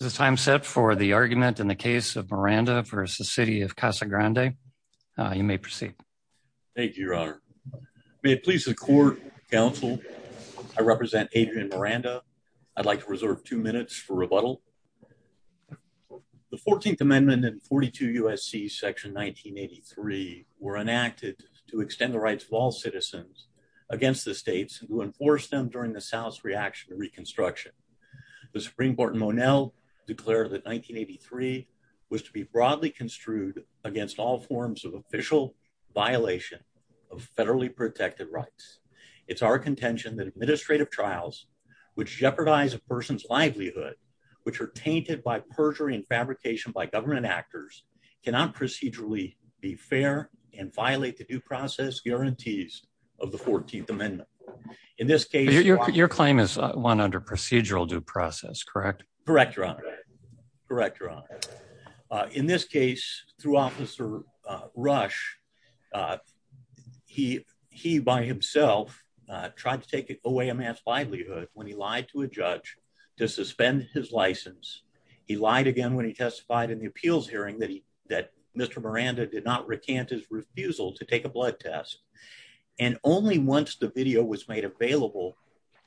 Is the time set for the argument in the case of Miranda v. City of Casa Grande? You may proceed. Thank you, Your Honor. May it please the Court, Counsel, I represent Adrian Miranda. I'd like to reserve two minutes for rebuttal. The 14th Amendment and 42 U.S.C. Section 1983 were enacted to extend the rights of all citizens against the states and to enforce them during the South's reaction to Reconstruction. The Supreme Court in Monell declared that 1983 was to be broadly construed against all forms of official violation of federally protected rights. It's our contention that administrative trials, which jeopardize a person's livelihood, which are tainted by perjury and fabrication by government actors, cannot procedurally be fair and violate the due process guarantees of the 14th Amendment. Your claim is one under procedural due process, correct? Correct, Your Honor. In this case, through Officer Rush, he by himself tried to take away a man's livelihood when he lied to a judge to suspend his license. He lied again when he testified in the appeals hearing that Mr. Miranda did not recant his refusal to take a blood test. And only once the video was made available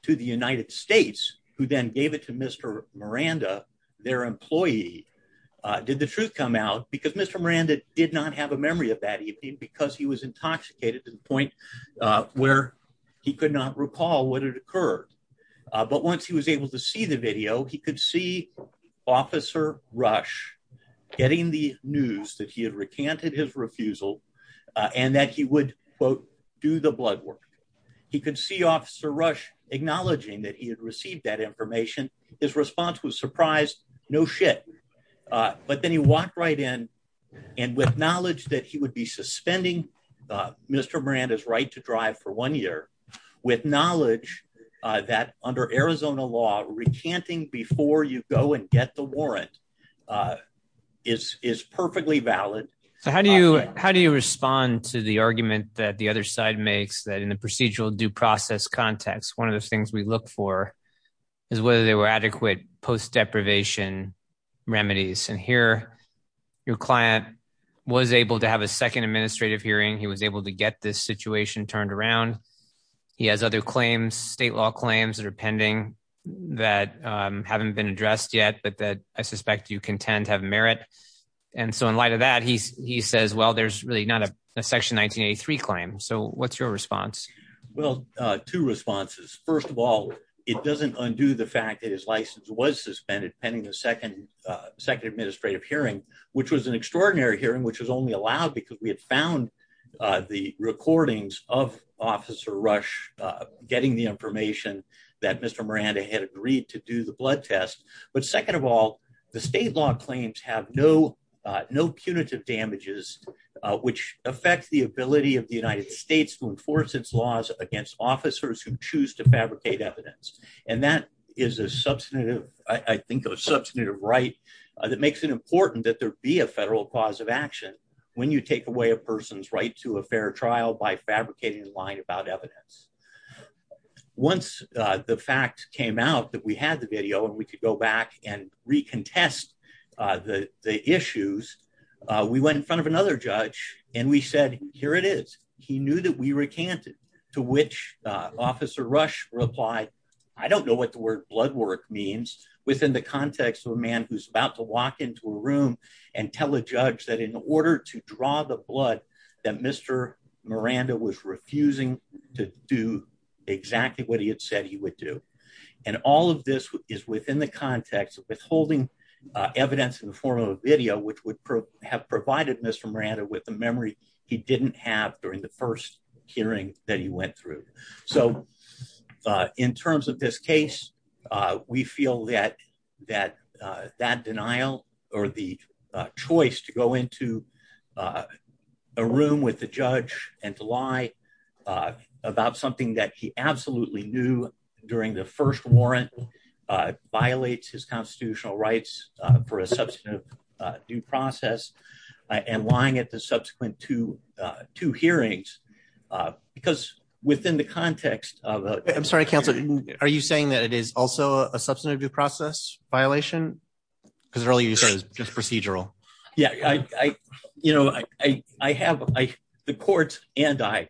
to the United States, who then gave it to Mr. Miranda, their employee, did the truth come out. Because Mr. Miranda did not have a memory of that evening because he was intoxicated to the point where he could not recall what had occurred. But once he was able to see the video, he could see Officer Rush getting the news that he had recanted his refusal and that he would, quote, do the blood work. He could see Officer Rush acknowledging that he had received that information. His response was surprised. No shit. But then he walked right in and with knowledge that he would be suspending Mr. Miranda's right to drive for one year, with knowledge that under Arizona law, recanting before you go and get the warrant is perfectly valid. So how do you how do you respond to the argument that the other side makes that in the procedural due process context? One of the things we look for is whether there were adequate post deprivation remedies. And here your client was able to have a second administrative hearing. He was able to get this situation turned around. He has other claims, state law claims that are pending that haven't been addressed yet, but that I suspect you contend have merit. And so in light of that, he he says, well, there's really not a Section 1983 claim. So what's your response? Well, two responses. First of all, it doesn't undo the fact that his license was suspended pending the second second administrative hearing, which was an extraordinary hearing, which was only allowed because we had found the recordings of Officer Rush getting the information that Mr. Miranda had agreed to do the blood test. But second of all, the state law claims have no no punitive damages, which affects the ability of the United States to enforce its laws against officers who choose to fabricate evidence. And that is a substantive, I think, a substantive right that makes it important that there be a federal cause of action when you take away a person's right to a fair trial by fabricating a line about evidence. Once the fact came out that we had the video and we could go back and recontest the issues, we went in front of another judge and we said, here it is. He knew that we recanted to which Officer Rush replied, I don't know what the word blood work means within the context of a man who's about to walk into a room and tell a judge that in order to draw the blood that Mr. Miranda was refusing to do exactly what he had said he would do. And all of this is within the context of withholding evidence in the form of a video which would have provided Mr. Miranda with the memory he didn't have during the first hearing that he went through. So, in terms of this case, we feel that that that denial, or the choice to go into a room with the judge and to lie about something that he absolutely knew during the first warrant violates his constitutional rights for a substantive due process, and lying at the subsequent to to hearings, because within the context of a, I'm sorry, Council, are you saying that it is also a substantive due process violation, because earlier you said is just procedural. Yeah, I, you know, I, I have, I, the court, and I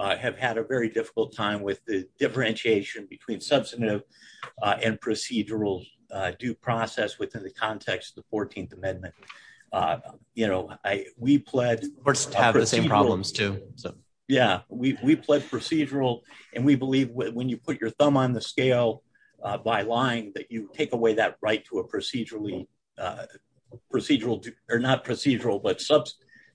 have had a very difficult time with the differentiation between substantive and procedural due process within the context of the 14th Amendment. You know, I, we pledged to have the same problems too. So, yeah, we pled procedural, and we believe when you put your thumb on the scale by lying that you take away that right to a procedurally procedural or not procedural but sub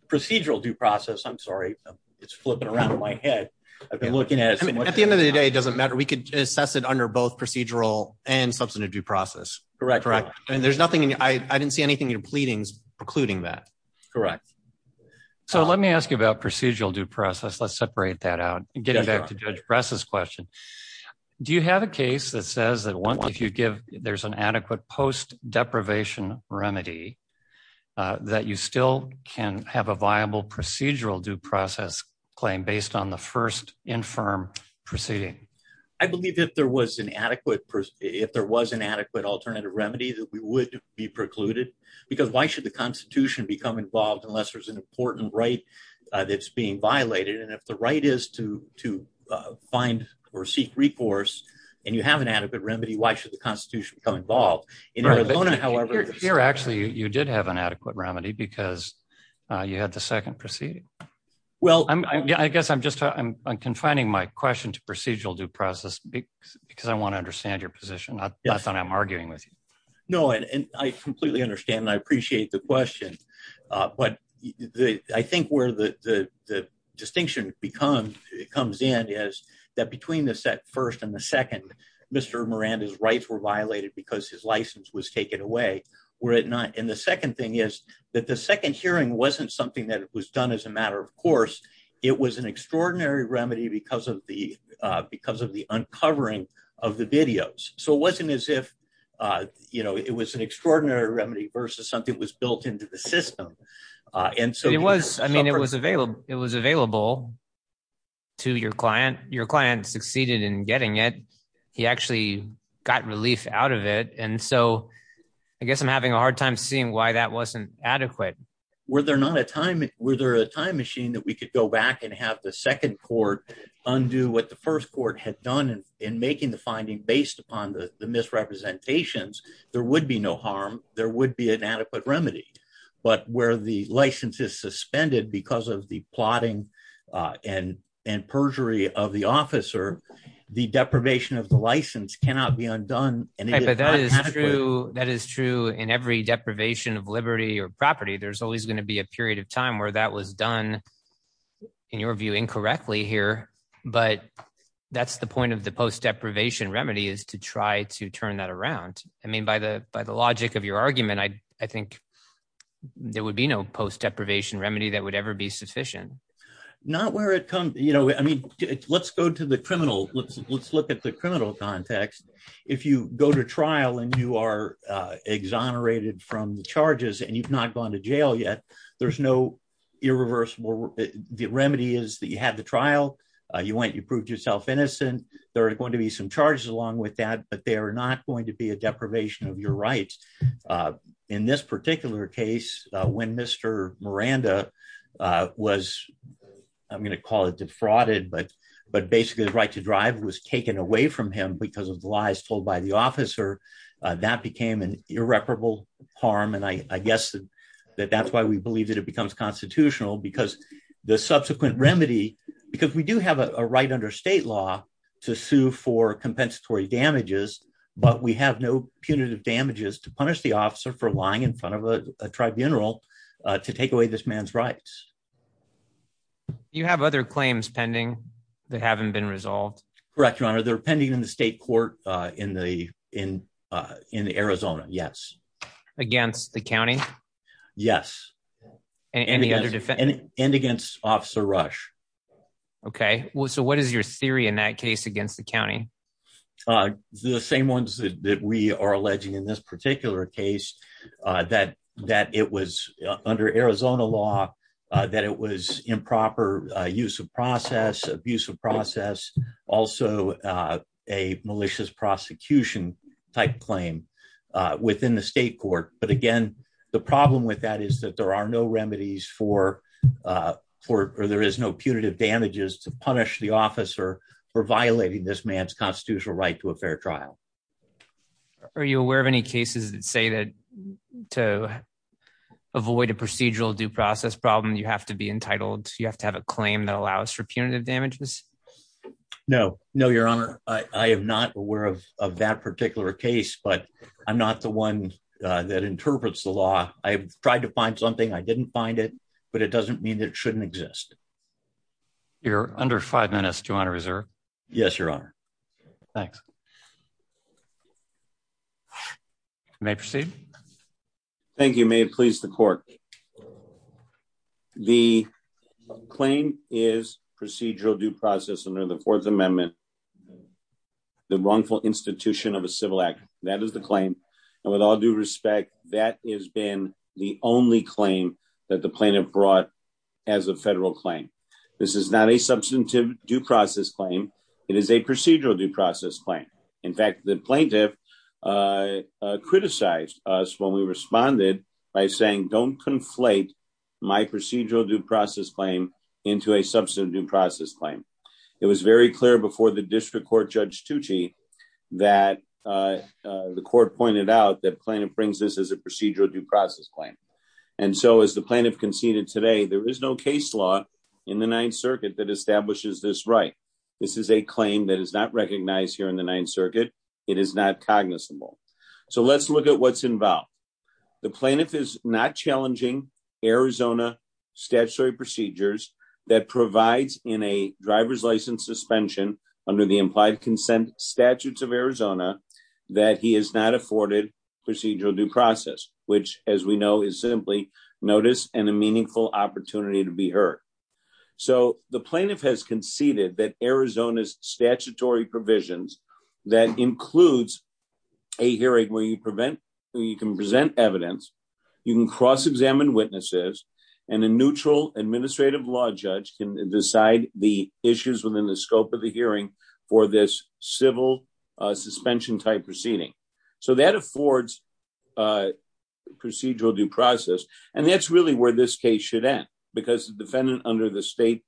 procedural due process I'm sorry, it's flipping around in my head. I've been looking at it at the end of the day doesn't matter we could assess it under both procedural and substantive due process. Correct. Correct. And there's nothing I didn't see anything in pleadings, precluding that. Correct. So let me ask you about procedural due process let's separate that out and get back to dress this question. Do you have a case that says that once you give, there's an adequate post deprivation remedy that you still can have a viable procedural due process claim based on the first infirm proceeding. I believe that there was an adequate if there was an adequate alternative remedy that we would be precluded, because why should the Constitution become involved unless there's an important right that's being violated and if the right is to to find or seek Well, I guess I'm just I'm confining my question to procedural due process, because I want to understand your position, I thought I'm arguing with you. I completely understand I appreciate the question. But I think where the distinction becomes, it comes in is that between the set first and the second. Mr Miranda's rights were violated because his license was taken away, were it not in the second thing is that the second hearing wasn't something that was done as a matter of course, it was an extraordinary remedy because of the because of the uncovering of the videos, so it wasn't as if you know it was an extraordinary remedy versus something was built into the system. And so it was, I mean it was available, it was available to your client, your client succeeded in getting it. He actually got relief out of it and so I guess I'm having a hard time seeing why that wasn't adequate. Were there not a time, were there a time machine that we could go back and have the second court undo what the first court had done in making the finding based upon the misrepresentations, there would be no harm, there would be an adequate remedy. But where the license is suspended because of the plotting and and perjury of the officer. The deprivation of the license cannot be undone, and that is true in every deprivation of liberty or property there's always going to be a period of time where that was done. In your view incorrectly here, but that's the point of the post deprivation remedy is to try to turn that around. I mean by the, by the logic of your argument I, I think there would be no post deprivation remedy that would ever be sufficient. Not where it comes, you know, I mean, let's go to the criminal, let's, let's look at the criminal context. If you go to trial and you are exonerated from the charges and you've not gone to jail yet. There's no irreversible. The remedy is that you had the trial, you went you proved yourself innocent. There are going to be some charges along with that but they are not going to be a deprivation of your rights. In this particular case, when Mr. Miranda was, I'm going to call it defrauded but but basically the right to drive was taken away from him because of the lies told by the officer that became an irreparable harm and I guess that that's why we believe that it becomes constitutional because the subsequent remedy, because we do have a right under state law to sue for compensatory damages, but we have no punitive damages to punish the officer for lying in front of a tribunal to take away this man's rights. You have other claims pending. They haven't been resolved. Correct Your Honor they're pending in the state court in the, in, in Arizona. Yes. Against the county. Yes. And against officer rush. Okay, well so what is your theory in that case against the county. The same ones that we are alleging in this particular case that that it was under Arizona law that it was improper use of process abusive process. Also, a malicious prosecution type claim within the state court, but again, the problem with that is that there are no remedies for for there is no punitive damages to punish the officer for violating this man's constitutional right to a fair trial. Are you aware of any cases that say that to avoid a procedural due process problem you have to be entitled to you have to have a claim that allows for punitive damages. No, no, Your Honor, I am not aware of that particular case but I'm not the one that interprets the law, I tried to find something I didn't find it, but it doesn't mean that shouldn't exist. You're under five minutes to honor reserve. Yes, Your Honor. Thanks. May proceed. Thank you may please the court. The claim is procedural due process under the Fourth Amendment. The wrongful institution of a civil act, that is the claim. And with all due respect, that is been the only claim that the plaintiff brought as a federal claim. This is not a substantive due process claim. It is a procedural due process claim. In fact, the plaintiff criticized us when we responded by saying don't conflate my procedural due process claim into a substantive due process claim. It was very clear before the district court Judge Tucci that the court pointed out that plaintiff brings this as a procedural due process claim. And so as the plaintiff conceded today there is no case law in the Ninth Circuit that establishes this right. This is a claim that is not recognized here in the Ninth Circuit. It is not cognizable. So let's look at what's involved. The plaintiff is not challenging Arizona statutory procedures that provides in a driver's license suspension under the implied consent statutes of Arizona, that he is not afforded procedural due process, which, as we know, is simply notice and a meaningful opportunity to be heard. So the plaintiff has conceded that Arizona's statutory provisions that includes a hearing where you can present evidence, you can cross-examine witnesses, and a neutral administrative law judge can decide the issues within the scope of the hearing for this civil suspension type proceeding. So that affords procedural due process. And that's really where this case should end, because the defendant under the state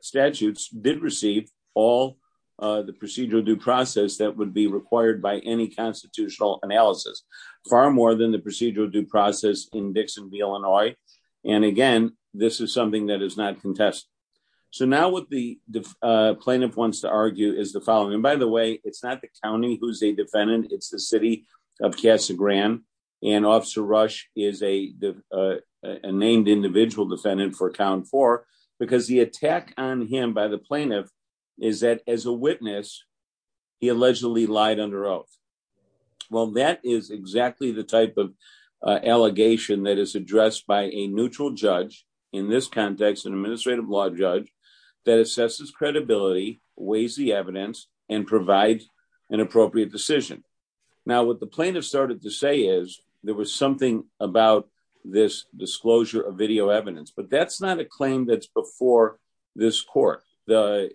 statutes did receive all the procedural due process that would be required by any constitutional analysis, far more than the procedural due process in Dixon v. Illinois. And again, this is something that is not contested. So now what the plaintiff wants to argue is the following. And by the way, it's not the county who's a defendant. It's the city of Casa Grande. And Officer Rush is a named individual defendant for count four, because the attack on him by the plaintiff is that as a witness, he allegedly lied under oath. Well, that is exactly the type of allegation that is addressed by a neutral judge in this context, an administrative law judge that assesses credibility, weighs the evidence, and provide an appropriate decision. Now, what the plaintiff started to say is there was something about this disclosure of video evidence, but that's not a claim that's before this court. The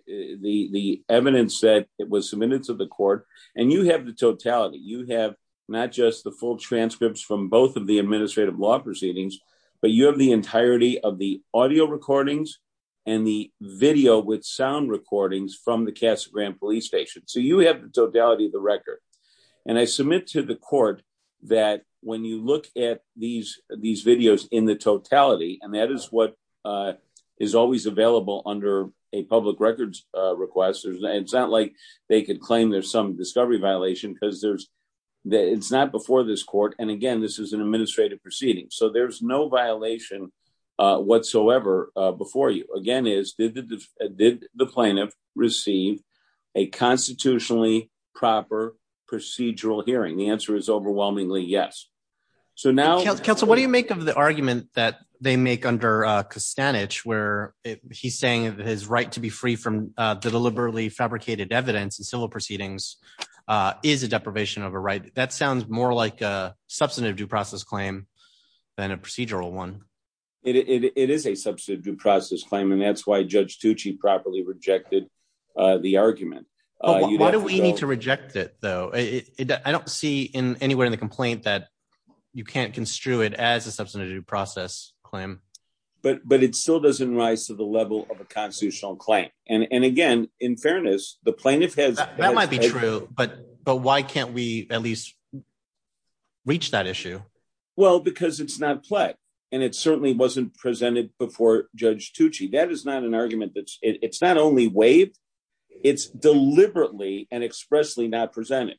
evidence said it was submitted to the court, and you have the totality. You have not just the full transcripts from both of the administrative law proceedings, but you have the entirety of the audio recordings and the video with sound recordings from the Casa Grande Police Station. So you have the totality of the record. And I submit to the court that when you look at these videos in the totality, and that is what is always available under a public records request, it's not like they could claim there's some discovery violation because it's not before this court. And again, this is an administrative proceeding. So there's no violation whatsoever before you. Again, is did the plaintiff receive a constitutionally proper procedural hearing? The answer is overwhelmingly yes. So now, counsel, what do you make of the argument that they make under Costanich where he's saying that his right to be free from the deliberately fabricated evidence and civil proceedings is a deprivation of a right? That sounds more like a substantive due process claim than a procedural one. It is a substantive due process claim, and that's why Judge Tucci properly rejected the argument. Why do we need to reject it, though? I don't see anywhere in the complaint that you can't construe it as a substantive due process claim. But it still doesn't rise to the level of a constitutional claim. And again, in fairness, the plaintiff has- That might be true, but why can't we at least reach that issue? Well, because it's not pled. And it certainly wasn't presented before Judge Tucci. That is not an argument that's- it's not only waived, it's deliberately and expressly not presented.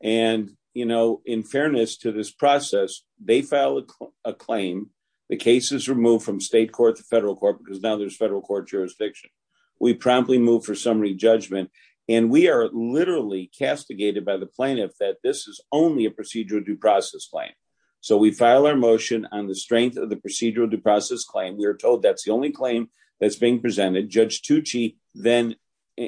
And, you know, in fairness to this process, they file a claim. The case is removed from state court to federal court because now there's federal court jurisdiction. We promptly move for summary judgment, and we are literally castigated by the plaintiff that this is only a procedural due process claim. So we file our motion on the strength of the procedural due process claim. We are told that's the only claim that's being presented. Judge Tucci then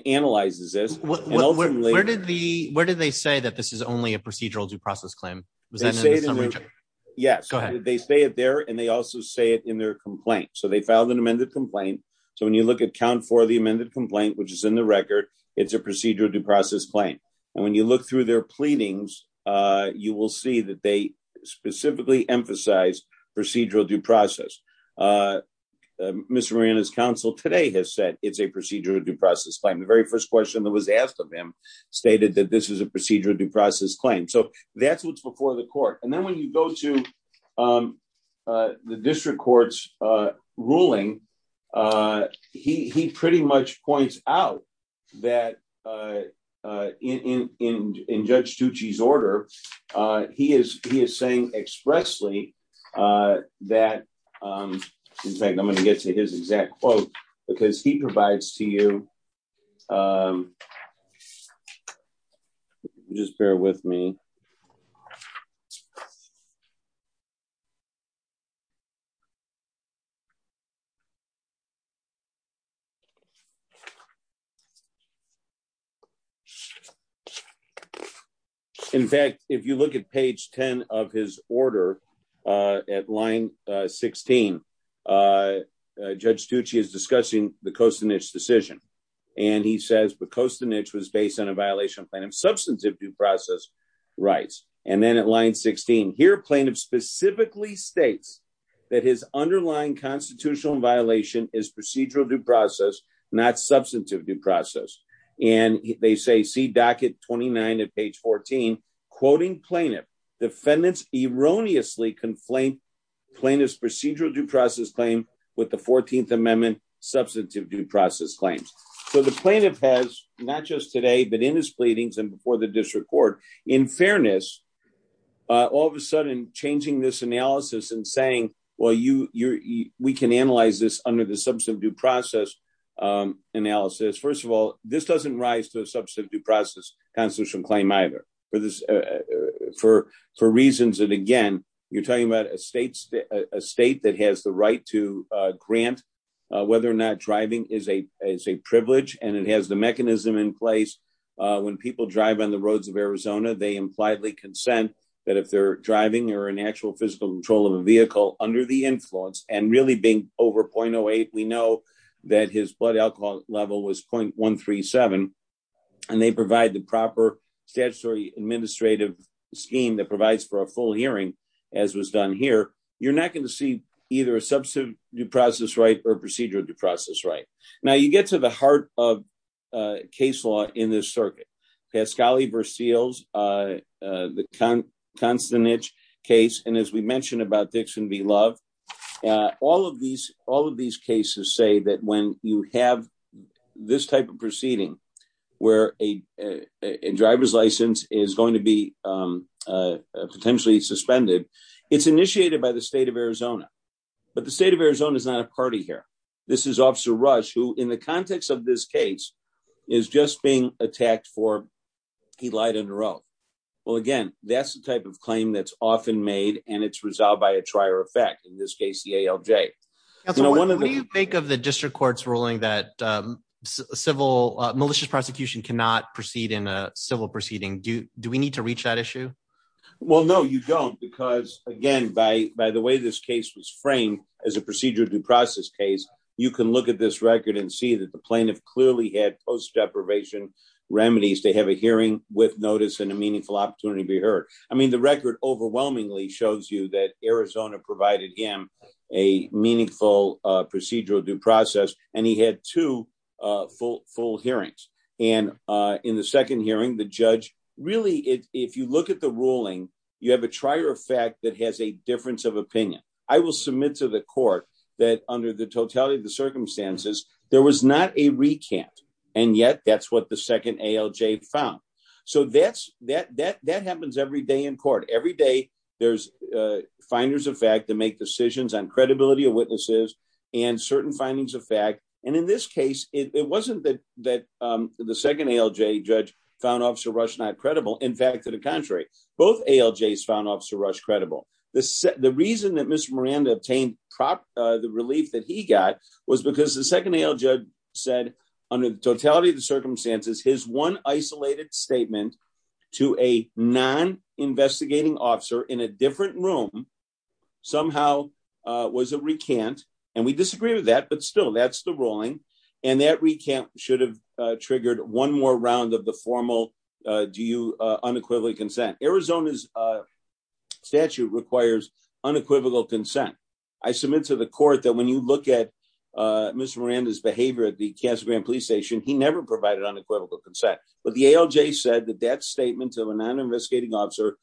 analyzes this. Where did they say that this is only a procedural due process claim? Was that in the summary judgment? Yes, they say it there and they also say it in their complaint. So they filed an amended complaint. So when you look at count for the amended complaint, which is in the record, it's a procedural due process claim. And when you look through their pleadings, you will see that they specifically emphasize procedural due process. Ms. Marina's counsel today has said it's a procedural due process claim. The very first question that was asked of him stated that this is a procedural due process claim. So that's what's before the court. And then when you go to the district court's ruling, he pretty much points out that in Judge Tucci's order, he is he is saying expressly that, in fact, I'm going to get to his exact quote because he provides to you. Just bear with me. In fact, if you look at page 10 of his order at line 16, Judge Tucci is discussing the Kostinich decision. And he says the Kostinich was based on a violation of substantive due process rights. And then at line 16 here, plaintiff specifically states that his underlying constitutional violation is procedural due process, not substantive due process. And they say see docket twenty nine at page 14, quoting plaintiff defendants erroneously conflate plaintiff's procedural due process claim with the 14th Amendment substantive due process claims. So the plaintiff has not just today, but in his pleadings and before the district court, in fairness, all of a sudden changing this analysis and saying, well, you you we can analyze this under the substantive due process analysis. First of all, this doesn't rise to a substantive due process constitutional claim either for this for for reasons. And again, you're talking about a state, a state that has the right to grant whether or not driving is a is a privilege and it has the mechanism in place. When people drive on the roads of Arizona, they impliedly consent that if they're driving or an actual physical control of a vehicle under the influence and really being over point oh eight. We know that his blood alcohol level was point one, three, seven, and they provide the proper statutory administrative scheme that provides for a full hearing, as was done here. You're not going to see either a substantive due process right or procedural due process right now. You get to the heart of case law in this circuit. Pasquale Brazil's the constant niche case. And as we mentioned about Dixon, we love all of these. All of these cases say that when you have this type of proceeding where a driver's license is going to be potentially suspended, it's initiated by the state of Arizona. But the state of Arizona is not a party here. This is Officer Rush, who in the context of this case is just being attacked for he lied on the road. Well, again, that's the type of claim that's often made and it's resolved by a trier effect. In this case, the ALJ. What do you think of the district court's ruling that civil malicious prosecution cannot proceed in a civil proceeding? Do do we need to reach that issue? Well, no, you don't, because, again, by by the way, this case was framed as a procedural due process case. You can look at this record and see that the plaintiff clearly had post deprivation remedies. They have a hearing with notice and a meaningful opportunity to be heard. I mean, the record overwhelmingly shows you that Arizona provided him a meaningful procedural due process and he had two full hearings. And in the second hearing, the judge really if you look at the ruling, you have a trier effect that has a difference of opinion. I will submit to the court that under the totality of the circumstances, there was not a recant. And yet that's what the second ALJ found. So that's that that that happens every day in court. Every day there's finders of fact to make decisions on credibility of witnesses and certain findings of fact. And in this case, it wasn't that that the second ALJ judge found Officer Rush not credible. In fact, to the contrary, both ALJs found Officer Rush credible. The reason that Mr. Miranda obtained the relief that he got was because the second ALJ said under the totality of the circumstances, his one isolated statement to a non investigating officer in a different room somehow was a recant. And we disagree with that. But still, that's the ruling. And that recant should have triggered one more round of the formal. Do you unequivocally consent? Arizona's statute requires unequivocal consent. I submit to the court that when you look at Mr. Miranda's behavior at the Casa Grande police station, he never provided unequivocal consent. But the ALJ said that that statement of a non investigating officer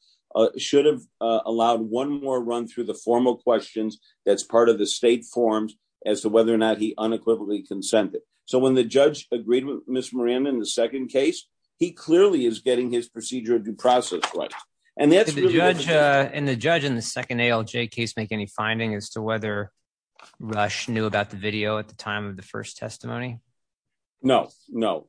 should have allowed one more run through the formal questions. That's part of the state forms as to whether or not he unequivocally consented. So when the judge agreed with Mr. Miranda in the second case, he clearly is getting his procedure due process. And that's the judge and the judge in the second ALJ case make any finding as to whether Rush knew about the video at the time of the first testimony? No, no,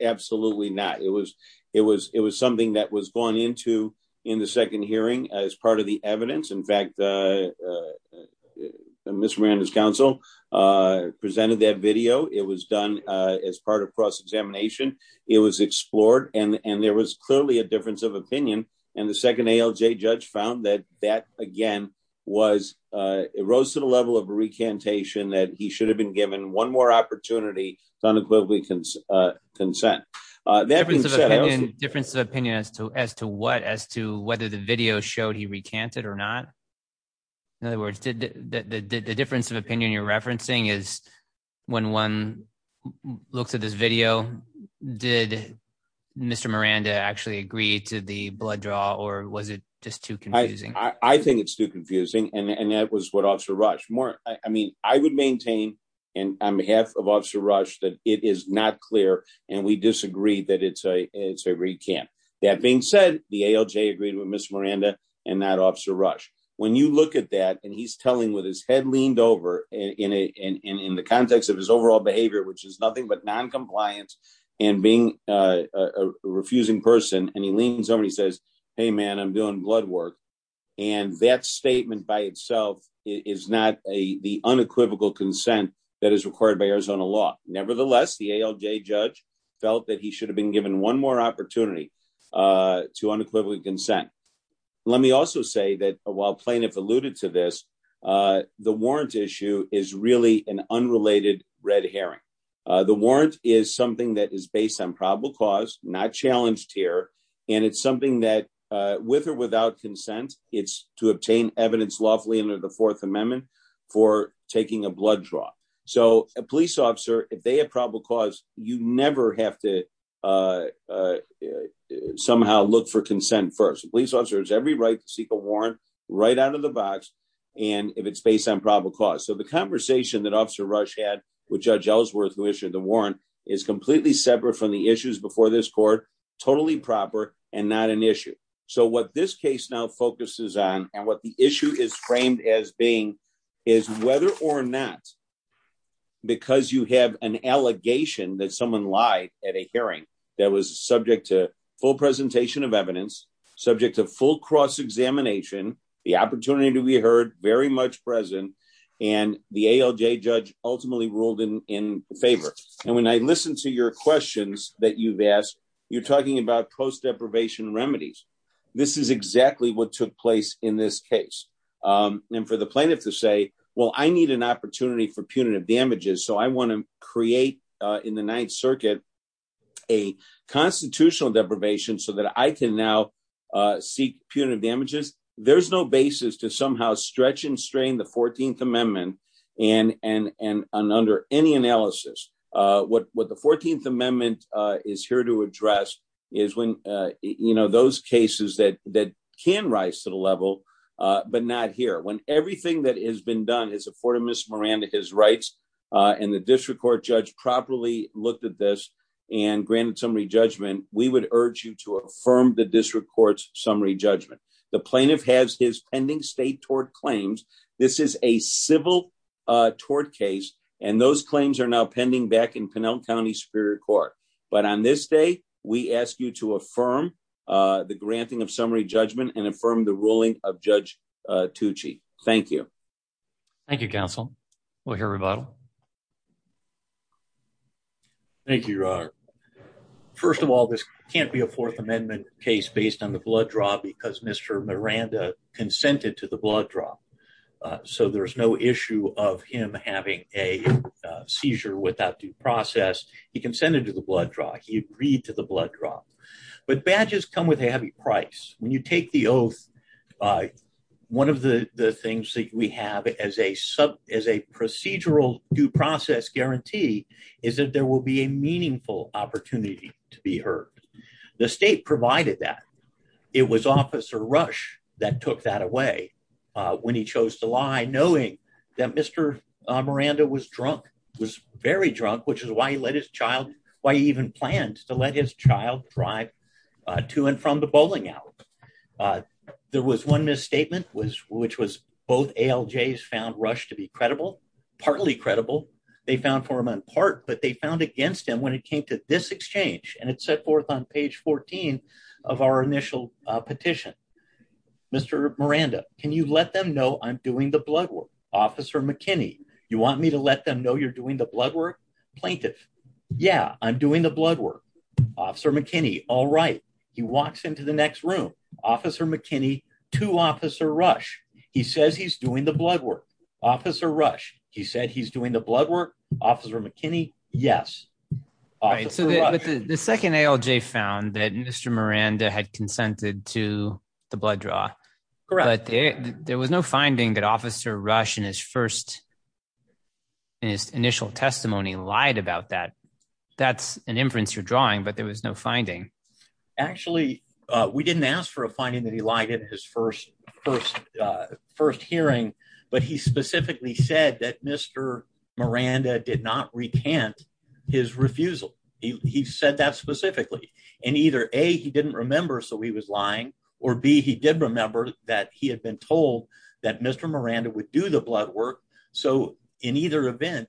absolutely not. It was it was it was something that was gone into in the second hearing as part of the evidence. In fact, Mr. Miranda's counsel presented that video. It was done as part of cross examination. It was explored and there was clearly a difference of opinion. And the second ALJ judge found that that, again, was it rose to the level of recantation that he should have been given one more opportunity to unequivocally consent. Difference of opinion as to as to what as to whether the video showed he recanted or not. In other words, did the difference of opinion you're referencing is when one looks at this video, did Mr. Miranda actually agree to the blood draw or was it just too confusing? I think it's too confusing. And that was what Officer Rush more. I mean, I would maintain on behalf of Officer Rush that it is not clear and we disagree that it's a it's a recant. That being said, the ALJ agreed with Miss Miranda and not Officer Rush. When you look at that and he's telling with his head leaned over in the context of his overall behavior, which is nothing but noncompliance and being a refusing person and he leans over, he says, hey, man, I'm doing blood work. And that statement by itself is not a the unequivocal consent that is required by Arizona law. Nevertheless, the ALJ judge felt that he should have been given one more opportunity to unequivocally consent. Let me also say that while plaintiff alluded to this, the warrant issue is really an unrelated red herring. The warrant is something that is based on probable cause, not challenged here. And it's something that with or without consent, it's to obtain evidence lawfully under the Fourth Amendment for taking a blood draw. So a police officer, if they have probable cause, you never have to somehow look for consent. First, police officers, every right to seek a warrant right out of the box. And if it's based on probable cause. So the conversation that Officer Rush had with Judge Ellsworth, who issued the warrant, is completely separate from the issues before this court. Totally proper and not an issue. So what this case now focuses on and what the issue is framed as being is whether or not. Because you have an allegation that someone lied at a hearing that was subject to full presentation of evidence, subject to full cross examination, the opportunity to be heard very much present and the ALJ judge ultimately ruled in favor. And when I listen to your questions that you've asked, you're talking about post deprivation remedies. This is exactly what took place in this case. And for the plaintiff to say, well, I need an opportunity for punitive damages. So I want to create in the Ninth Circuit a constitutional deprivation so that I can now seek punitive damages. There's there's no basis to somehow stretch and strain the 14th Amendment and and and under any analysis. What what the 14th Amendment is here to address is when, you know, those cases that that can rise to the level, but not here. When everything that has been done is afforded Miss Miranda, his rights and the district court judge properly looked at this and granted summary judgment. We would urge you to affirm the district court's summary judgment. The plaintiff has his pending state tort claims. This is a civil tort case. And those claims are now pending back in Pinal County Superior Court. But on this day, we ask you to affirm the granting of summary judgment and affirm the ruling of Judge Tucci. Thank you. Thank you, counsel. We'll hear about. Thank you. First of all, this can't be a Fourth Amendment case based on the blood draw because Mr. Miranda consented to the blood draw. So there is no issue of him having a seizure without due process. He consented to the blood draw. He agreed to the blood draw. But badges come with a heavy price. When you take the oath, one of the things that we have as a sub is a procedural due process guarantee is that there will be a meaningful opportunity to be heard. The state provided that it was Officer Rush that took that away when he chose to lie, knowing that Mr. Miranda was drunk, was very drunk, which is why he let his child, why he even planned to let his child drive to and from the bowling alley. There was one misstatement was which was both ALJs found Rush to be credible, partly credible. They found for him on part, but they found against him when it came to this exchange. And it's set forth on page 14 of our initial petition. Mr. Miranda, can you let them know I'm doing the blood work? Officer McKinney, you want me to let them know you're doing the blood work plaintiff? Yeah, I'm doing the blood work. Officer McKinney. All right. He walks into the next room. Officer McKinney to Officer Rush. He says he's doing the blood work. Officer Rush. He said he's doing the blood work. Officer McKinney. Yes. All right. So the second ALJ found that Mr. Miranda had consented to the blood draw. But there was no finding that Officer Rush in his first. His initial testimony lied about that. That's an inference you're drawing, but there was no finding. Actually, we didn't ask for a finding that he lied in his first first first hearing, but he specifically said that Mr. Miranda did not recant his refusal. He said that specifically in either a he didn't remember. So he was lying or B. He did remember that he had been told that Mr. Miranda would do the blood work. So in either event,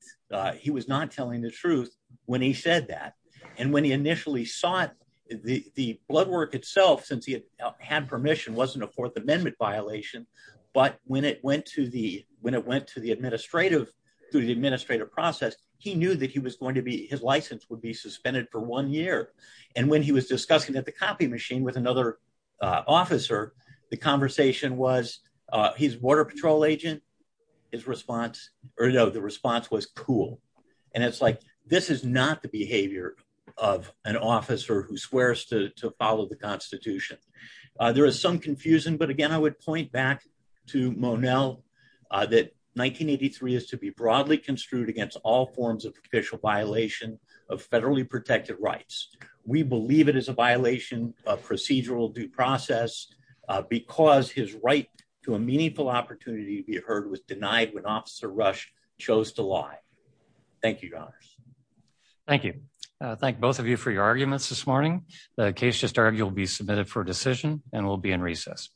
he was not telling the truth when he said that. And when he initially sought the blood work itself, since he had permission, wasn't a Fourth Amendment violation. But when it went to the when it went to the administrative through the administrative process, he knew that he was going to be his license would be suspended for one year. And when he was discussing at the copy machine with another officer, the conversation was he's water patrol agent. His response or no, the response was cool. And it's like this is not the behavior of an officer who swears to follow the Constitution. There is some confusion. But again, I would point back to Monell that 1983 is to be broadly construed against all forms of official violation of federally protected rights. We believe it is a violation of procedural due process because his right to a meaningful opportunity to be heard was denied when Officer Rush chose to lie. Thank you. Thank you. Thank both of you for your arguments this morning. The case just argued will be submitted for decision and will be in recess.